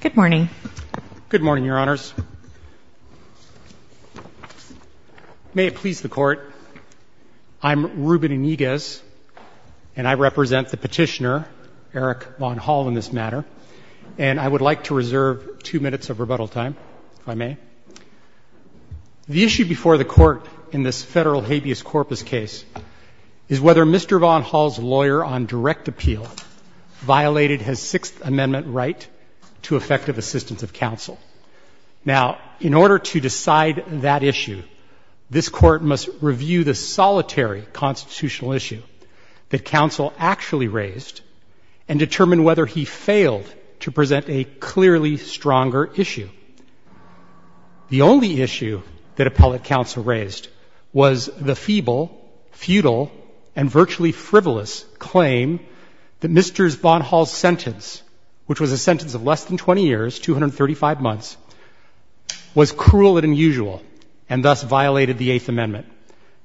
Good morning. Good morning, Your Honors. May it please the Court, I'm Ruben Iniguez, and I represent the petitioner, Eric Von Hall, in this matter, and I would like to reserve two minutes of rebuttal time, if I may. The issue before the Court in this federal habeas corpus case is whether Mr. Von Hall's lawyer on direct appeal violated his Sixth Amendment right to effective assistance of counsel. Now, in order to decide that issue, this Court must review the solitary constitutional issue that counsel actually raised and determine whether he failed to present a clearly stronger issue. The only issue that appellate counsel raised was the feeble, futile, and virtually frivolous claim that Mr. Von Hall's sentence, which was a sentence of less than 20 years, 235 months, was cruel and unusual and thus violated the Eighth Amendment.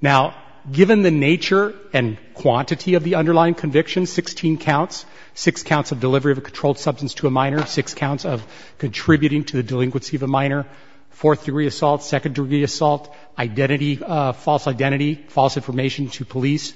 Now, given the nature and quantity of the underlying conviction, 16 counts, six counts of delivery of a controlled substance to a minor, six counts of contributing to the delinquency of a minor, fourth-degree assault, second-degree assault, identity, false identity, false information to police,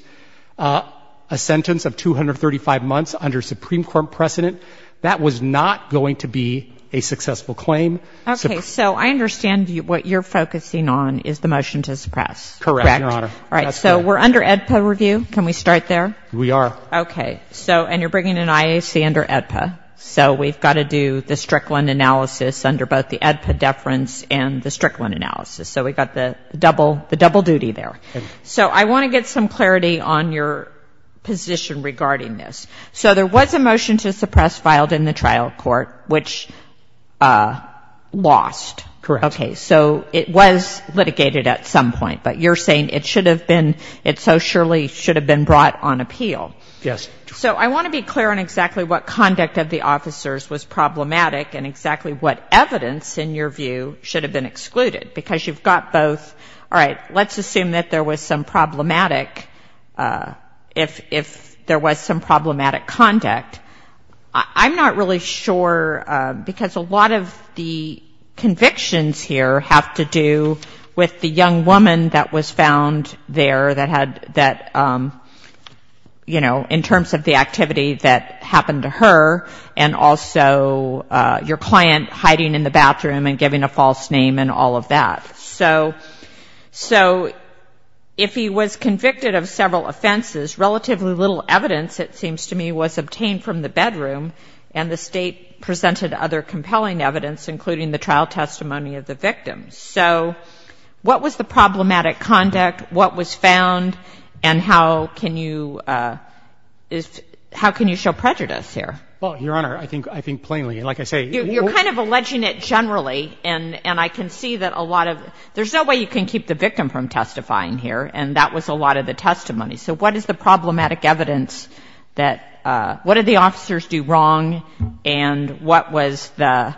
a sentence of 235 months under Supreme Court precedent, that was not going to be a successful claim. Okay. So I understand what you're focusing on is the motion to suppress. Correct, Your Honor. Correct. All right. So we're under AEDPA review. Can we start there? We are. Okay. So and you're bringing an IAC under AEDPA. So we've got to do the Strickland analysis under both the AEDPA deference and the Strickland analysis. So we've got the double duty there. So I want to get some clarity on your position regarding this. So there was a motion to suppress filed in the trial court, which lost. Correct. Okay. So it was litigated at some point. But you're saying it should have been, it so surely should have been brought on appeal. Yes. So I want to be clear on exactly what conduct of the officers was problematic and exactly what evidence, in your view, should have been excluded, because you've got both. All right. Let's assume that there was some problematic, if there was some problematic conduct. I'm not really sure because a lot of the convictions here have to do with the young woman that was found there that had that, you know, in terms of the activity that happened to her and also your client hiding in the bathroom and giving a false name and all of that. So if he was convicted of several offenses, relatively little evidence, it seems to me, was obtained from the bedroom and the State presented other compelling evidence, including the trial testimony of the victim. So what was the problematic conduct? What was found? And how can you show prejudice here? Well, Your Honor, I think plainly, like I say. You're kind of alleging it generally. And I can see that a lot of, there's no way you can keep the victim from testifying here. And that was a lot of the testimony. So what is the problematic evidence that, what did the officers do wrong and what was the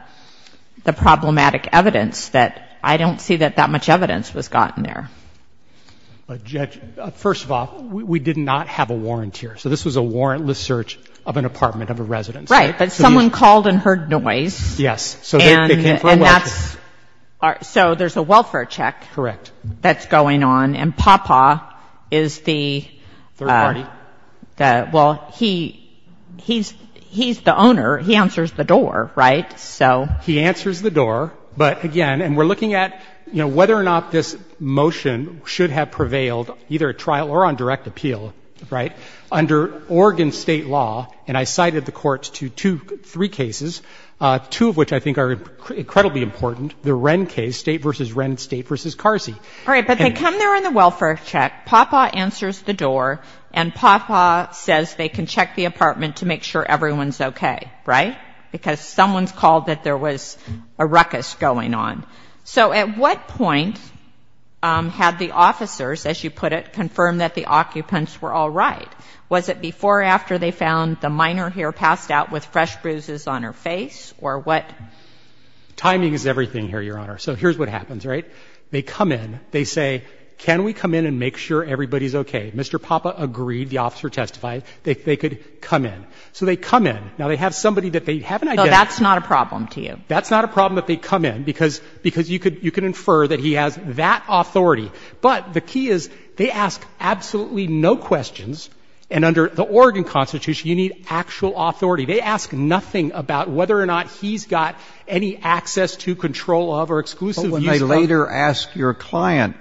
problematic evidence that I don't see that that much evidence was gotten there? Judge, first of all, we did not have a warrant here. So this was a warrantless search of an apartment of a residence. Right. But someone called and heard noise. Yes. And that's, so there's a welfare check. Correct. That's going on. And Papa is the. Third party. Well, he's the owner. He answers the door. Right? So. He answers the door. But, again, and we're looking at, you know, whether or not this motion should have prevailed, either at trial or on direct appeal. Right? Under Oregon State law, and I cited the courts to two, three cases, two of which I think are incredibly important. The Wren case, State v. Wren, State v. Carsey. All right, but they come there on the welfare check, Papa answers the door, and Papa says they can check the apartment to make sure everyone's okay. Right? Because someone's called that there was a ruckus going on. So at what point had the officers, as you put it, confirmed that the occupants were all right? Was it before or after they found the minor here passed out with fresh bruises on her face, or what? Timing is everything here, Your Honor. So here's what happens. Right? They come in. They say, can we come in and make sure everybody's okay? Mr. Papa agreed. The officer testified. They could come in. So they come in. Now, they have somebody that they haven't identified. No, that's not a problem to you. That's not a problem that they come in, because you can infer that he has that authority. But the key is they ask absolutely no questions, and under the Oregon Constitution, you need actual authority. They ask nothing about whether or not he's got any access to, control of, or exclusive use of. But when they later ask your client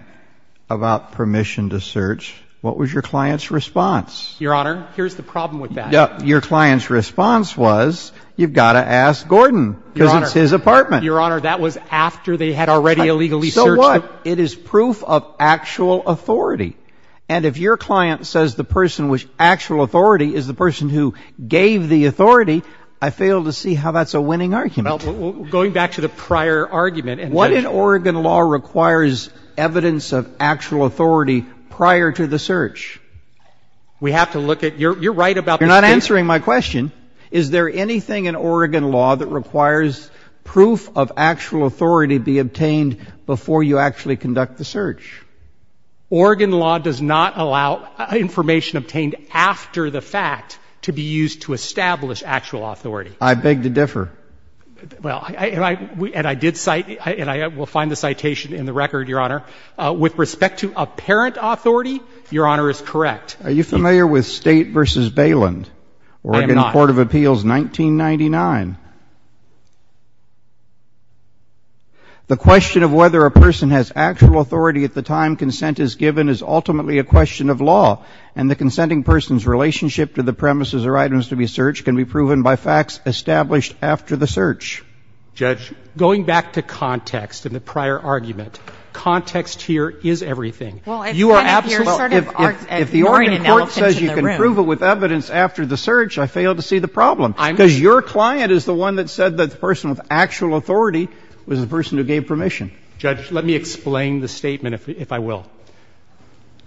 about permission to search, what was your client's response? Your Honor, here's the problem with that. Your client's response was, you've got to ask Gordon, because it's his apartment. Your Honor, that was after they had already illegally searched. So what? It is proof of actual authority. And if your client says the person with actual authority is the person who gave the authority, I fail to see how that's a winning argument. Well, going back to the prior argument. What in Oregon law requires evidence of actual authority prior to the search? We have to look at you're right about this case. You're not answering my question. Is there anything in Oregon law that requires proof of actual authority be obtained before you actually conduct the search? Oregon law does not allow information obtained after the fact to be used to establish actual authority. I beg to differ. Well, and I did cite, and I will find the citation in the record, Your Honor. With respect to apparent authority, Your Honor is correct. Are you familiar with State v. Bayland? I am not. Oregon Court of Appeals, 1999. The question of whether a person has actual authority at the time consent is given is ultimately a question of law. And the consenting person's relationship to the premises or items to be searched can be proven by facts established after the search. Judge? Going back to context and the prior argument, context here is everything. Well, if the Oregon court says you can prove it with evidence after the search, I fail to see the problem. Because your client is the one that said that the person with actual authority was the person who gave permission. Judge, let me explain the statement, if I will.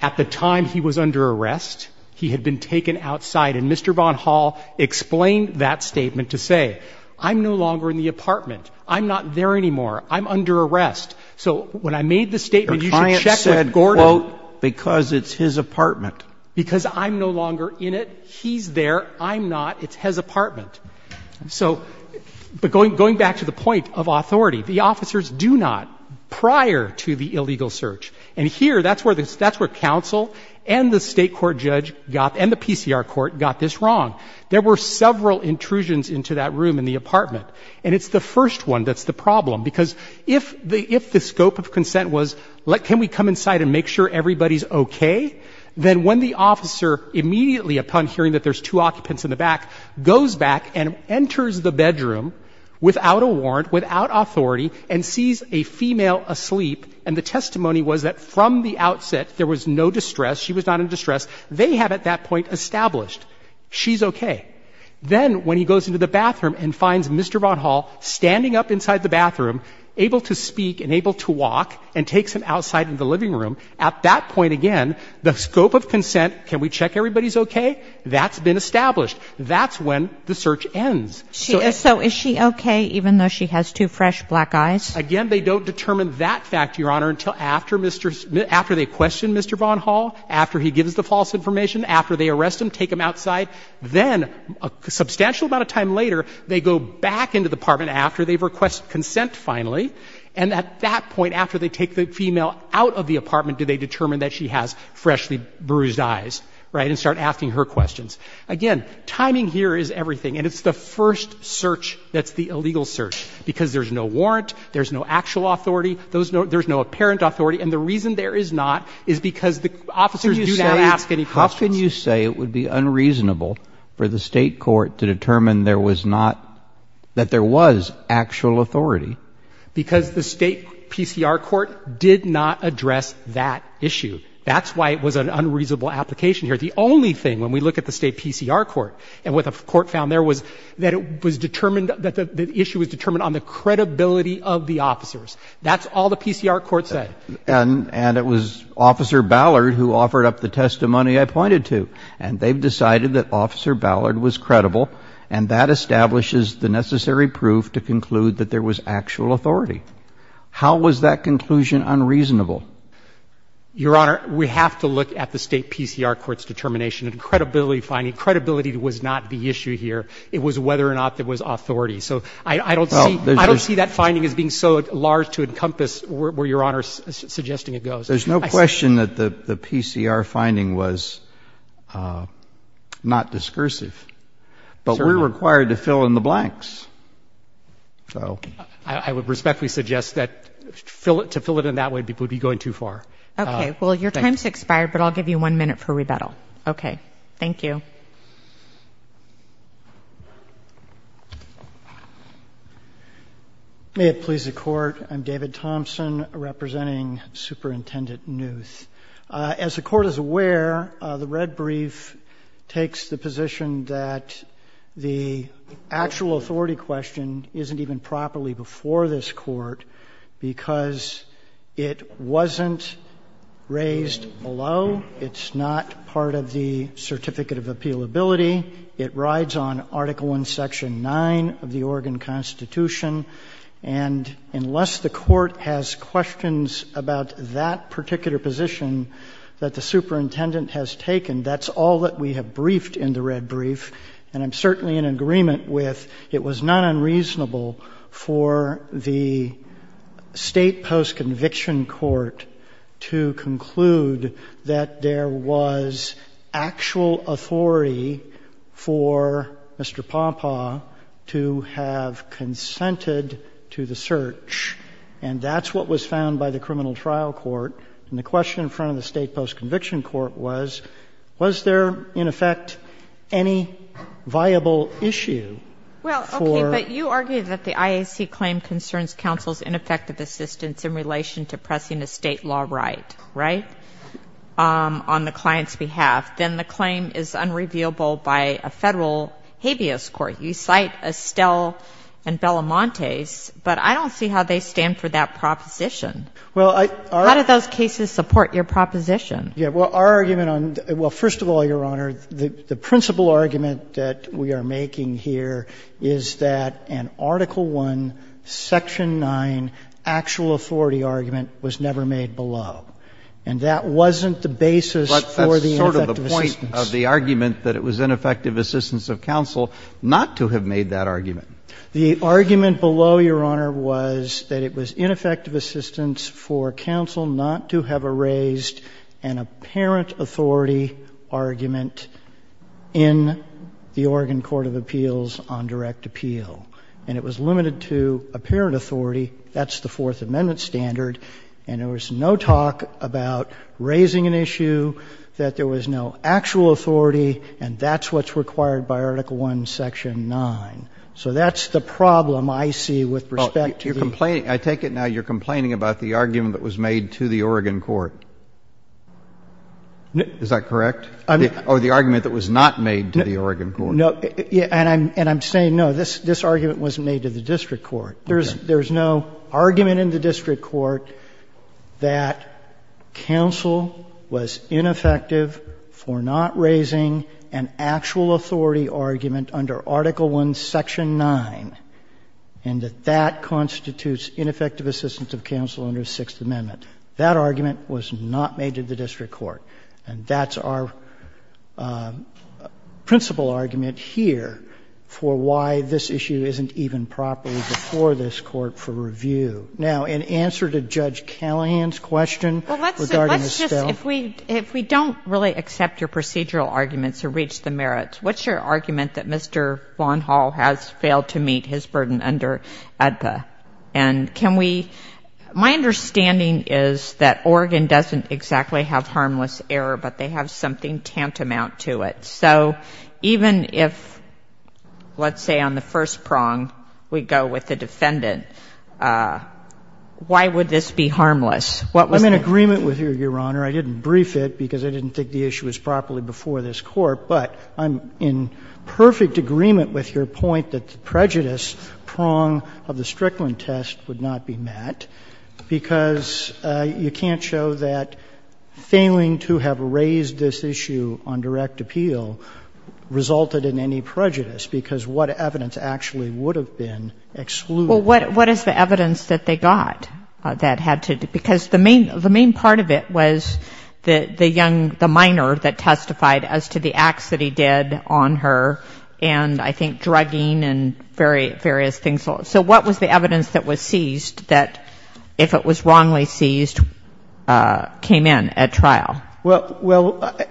At the time he was under arrest, he had been taken outside, and Mr. Vaughn Hall explained that statement to say, I'm no longer in the apartment. I'm not there anymore. I'm under arrest. So when I made the statement, you should check with Gordon. Your client said, quote, because it's his apartment. Because I'm no longer in it. He's there. I'm not. It's his apartment. So, but going back to the point of authority, the officers do not prior to the illegal search. And here, that's where counsel and the state court judge and the PCR court got this wrong. There were several intrusions into that room in the apartment. And it's the first one that's the problem. Because if the scope of consent was, can we come inside and make sure everybody's okay, then when the officer, immediately upon hearing that there's two occupants in the back, goes back and enters the bedroom without a warrant, without authority, and sees a female asleep, and the testimony was that from the outset there was no distress, she was not in distress, they have at that point established, she's okay. Then when he goes into the bathroom and finds Mr. Vaughn Hall standing up inside the bathroom, able to speak and able to walk, and takes him outside into the living room, at that point, again, the scope of consent, can we check everybody's okay? That's been established. That's when the search ends. So is she okay even though she has two fresh black eyes? Again, they don't determine that fact, Your Honor, until after Mr. — after they question Mr. Vaughn Hall, after he gives the false information, after they arrest him, take him outside. Then a substantial amount of time later, they go back into the apartment after they've requested consent, finally. And at that point, after they take the female out of the apartment, do they determine that she has freshly bruised eyes, right, and start asking her questions? Again, timing here is everything, and it's the first search that's the illegal search because there's no warrant, there's no actual authority, there's no apparent authority, and the reason there is not is because the officers do not ask any questions. How can you say it would be unreasonable for the State court to determine there was not because the State PCR court did not address that issue. That's why it was an unreasonable application here. The only thing, when we look at the State PCR court and what the court found there was that it was determined that the issue was determined on the credibility of the officers. That's all the PCR court said. And it was Officer Ballard who offered up the testimony I pointed to, and they've decided that Officer Ballard was credible, and that establishes the necessary proof to conclude that there was actual authority. How was that conclusion unreasonable? Your Honor, we have to look at the State PCR court's determination and credibility finding. Credibility was not the issue here. It was whether or not there was authority. So I don't see that finding as being so large to encompass where Your Honor is suggesting it goes. There's no question that the PCR finding was not discursive. But we're required to fill in the blanks. I would respectfully suggest that to fill it in that way would be going too far. Okay. Well, your time's expired, but I'll give you one minute for rebuttal. Okay. Thank you. May it please the Court, I'm David Thompson representing Superintendent Newth. As the Court is aware, the red brief takes the position that the actual authority question isn't even properly before this Court because it wasn't raised below. It's not part of the Certificate of Appealability. It rides on Article I, Section 9 of the Oregon Constitution. And unless the Court has questions about that particular position that the Superintendent has taken, that's all that we have briefed in the red brief. And I'm certainly in agreement with it was not unreasonable for the State Post-Conviction Court to conclude that there was actual authority for Mr. Pompa to have consented to the search. And that's what was found by the Criminal Trial Court. And the question in front of the State Post-Conviction Court was, was there, in effect, any viable issue for... Well, okay, but you argued that the IAC claim concerns counsel's ineffective assistance in relation to pressing a state law right, right, on the client's behalf. Then the claim is unrevealable by a federal habeas court. You cite Estelle and Belamontes, but I don't see how they stand for that proposition. Well, I... How do those cases support your proposition? Yeah, well, our argument on... Well, first of all, Your Honor, the principal argument that we are making here is that an Article I, Section 9 actual authority argument was never made below. And that wasn't the basis for the ineffective assistance. But that's sort of the point of the argument that it was ineffective assistance of counsel not to have made that argument. The argument below, Your Honor, was that it was ineffective assistance for counsel not to have raised an apparent authority argument in the Oregon Court of Appeals on direct appeal. And it was limited to apparent authority. That's the Fourth Amendment standard. And there was no talk about raising an issue, that there was no actual authority, and that's what's required by Article I, Section 9. So that's the problem I see with respect to the... Oh, you're complaining. I take it now you're complaining about the argument that was made to the Oregon Court. Is that correct? I mean... Or the argument that was not made to the Oregon Court. No. And I'm saying, no, this argument was made to the district court. Okay. There's no argument in the district court that counsel was ineffective for not raising an actual authority argument under Article I, Section 9, and that that constitutes ineffective assistance of counsel under the Sixth Amendment. That argument was not made to the district court. And that's our principal argument here for why this issue isn't even properly before this Court for review. Now, in answer to Judge Callahan's question regarding the... If we don't really accept your procedural arguments to reach the merits, what's your argument that Mr. Vaughn Hall has failed to meet his burden under ADPA? And can we — my understanding is that Oregon doesn't exactly have harmless error, but they have something tantamount to it. So even if, let's say, on the first prong, we go with the defendant, why would this be harmless? What was the... I'm in agreement with you, Your Honor. I didn't brief it because I didn't think the issue was properly before this Court. But I'm in perfect agreement with your point that the prejudice prong of the Strickland test would not be met because you can't show that failing to have raised this issue on direct appeal resulted in any prejudice, because what evidence actually would have been excluded? Well, what is the evidence that they got that had to do — because the main part of it was the young — the minor that testified as to the acts that he did on her and, I think, drugging and various things. So what was the evidence that was seized that, if it was wrongly seized, came in at trial? Well, I...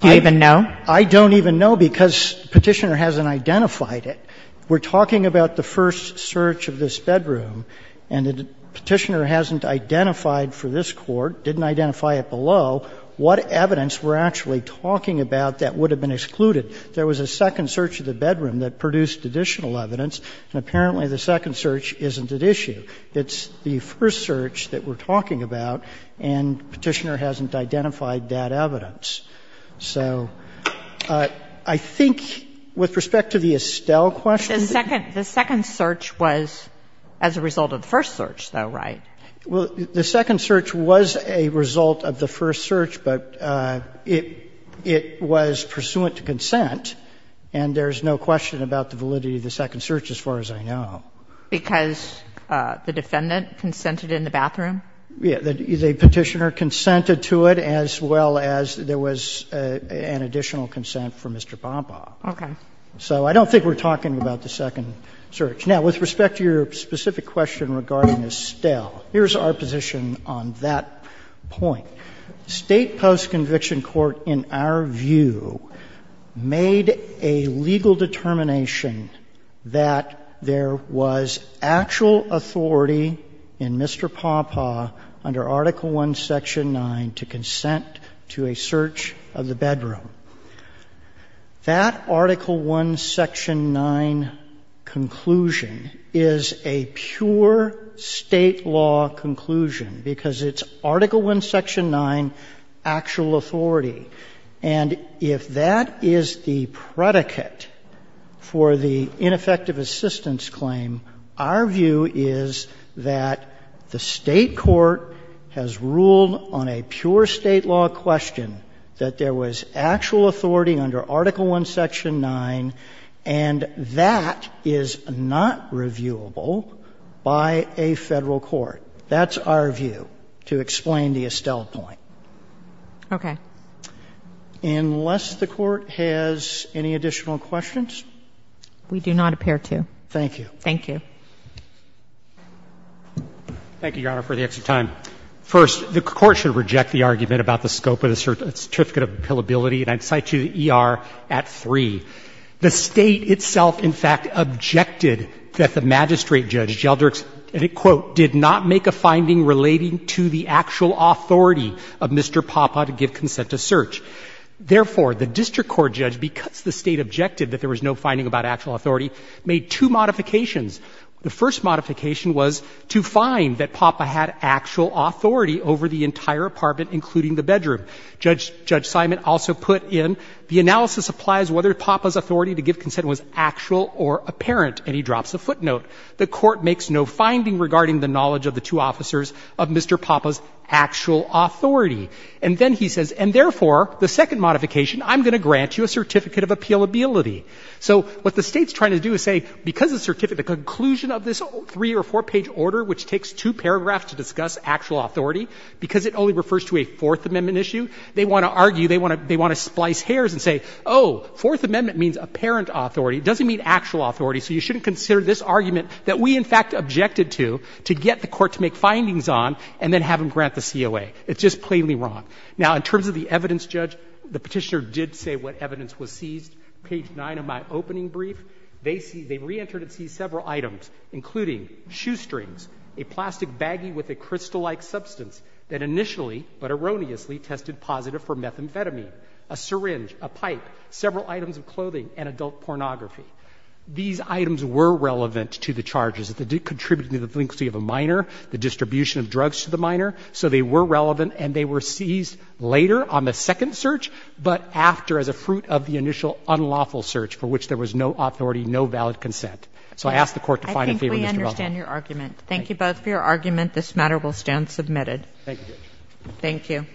Do you even know? I don't even know because Petitioner hasn't identified it. We're talking about the first search of this bedroom, and Petitioner hasn't identified for this Court, didn't identify it below, what evidence we're actually talking about that would have been excluded. There was a second search of the bedroom that produced additional evidence, and apparently the second search isn't at issue. It's the first search that we're talking about, and Petitioner hasn't identified that evidence. So I think with respect to the Estelle question... The second — the second search was as a result of the first search, though, right? Well, the second search was a result of the first search, but it — it was pursuant to consent, and there's no question about the validity of the second search as far as I know. Because the defendant consented in the bathroom? Yeah. The Petitioner consented to it, as well as there was an additional consent from Mr. Pompa. Okay. So I don't think we're talking about the second search. Now, with respect to your specific question regarding Estelle, here's our position on that point. State post-conviction court, in our view, made a legal determination that there was actual authority in Mr. Pompa under Article I, Section 9, to consent to a search of the bedroom. That Article I, Section 9 conclusion is a pure State law conclusion, because it's Article I, Section 9, actual authority. And if that is the predicate for the ineffective assistance claim, our view is that the State court has ruled on a pure State law question that there was actual authority under Article I, Section 9, and that is not reviewable by a Federal court. That's our view, to explain the Estelle point. Okay. Unless the Court has any additional questions? We do not appear to. Thank you. Thank you. Thank you, Your Honor, for the extra time. First, the Court should reject the argument about the scope of the certificate of appealability, and I'd cite you the ER at 3. The State itself, in fact, objected that the magistrate judge, Gelderix, and it, quote, did not make a finding relating to the actual authority of Mr. Poppa to give consent to search. Therefore, the district court judge, because the State objected that there was no finding about actual authority, made two modifications. The first modification was to find that Poppa had actual authority over the entire apartment, including the bedroom. Judge Simon also put in, the analysis applies whether Poppa's authority to give consent was actual or apparent, and he drops a footnote. The Court makes no finding regarding the knowledge of the two officers of Mr. Poppa's actual authority. And then he says, and therefore, the second modification, I'm going to grant you a certificate of appealability. So what the State's trying to do is say, because the certificate, the conclusion of this three- or four-page order, which takes two paragraphs to discuss actual authority, because it only refers to a Fourth Amendment issue, they want to argue, they want to splice hairs and say, oh, Fourth Amendment means apparent authority, it doesn't mean actual authority, so you shouldn't consider this argument that we, in fact, objected to, to get the Court to make findings on and then have them grant the COA. It's just plainly wrong. Now, in terms of the evidence, Judge, the Petitioner did say what evidence was seized. Page 9 of my opening brief, they reentered and seized several items, including shoestrings, a plastic baggie with a crystal-like substance that initially, but erroneously, tested positive for methamphetamine, a syringe, a pipe, several items of clothing, and adult pornography. These items were relevant to the charges. They did contribute to the delinquency of a minor, the distribution of drugs to the minor. So they were relevant, and they were seized later on the second search, but after as a fruit of the initial unlawful search for which there was no authority, no valid consent. So I ask the Court to find a favor in this development. I think we understand your argument. Thank you both for your argument. This matter will stand submitted. Thank you, Judge. Thank you.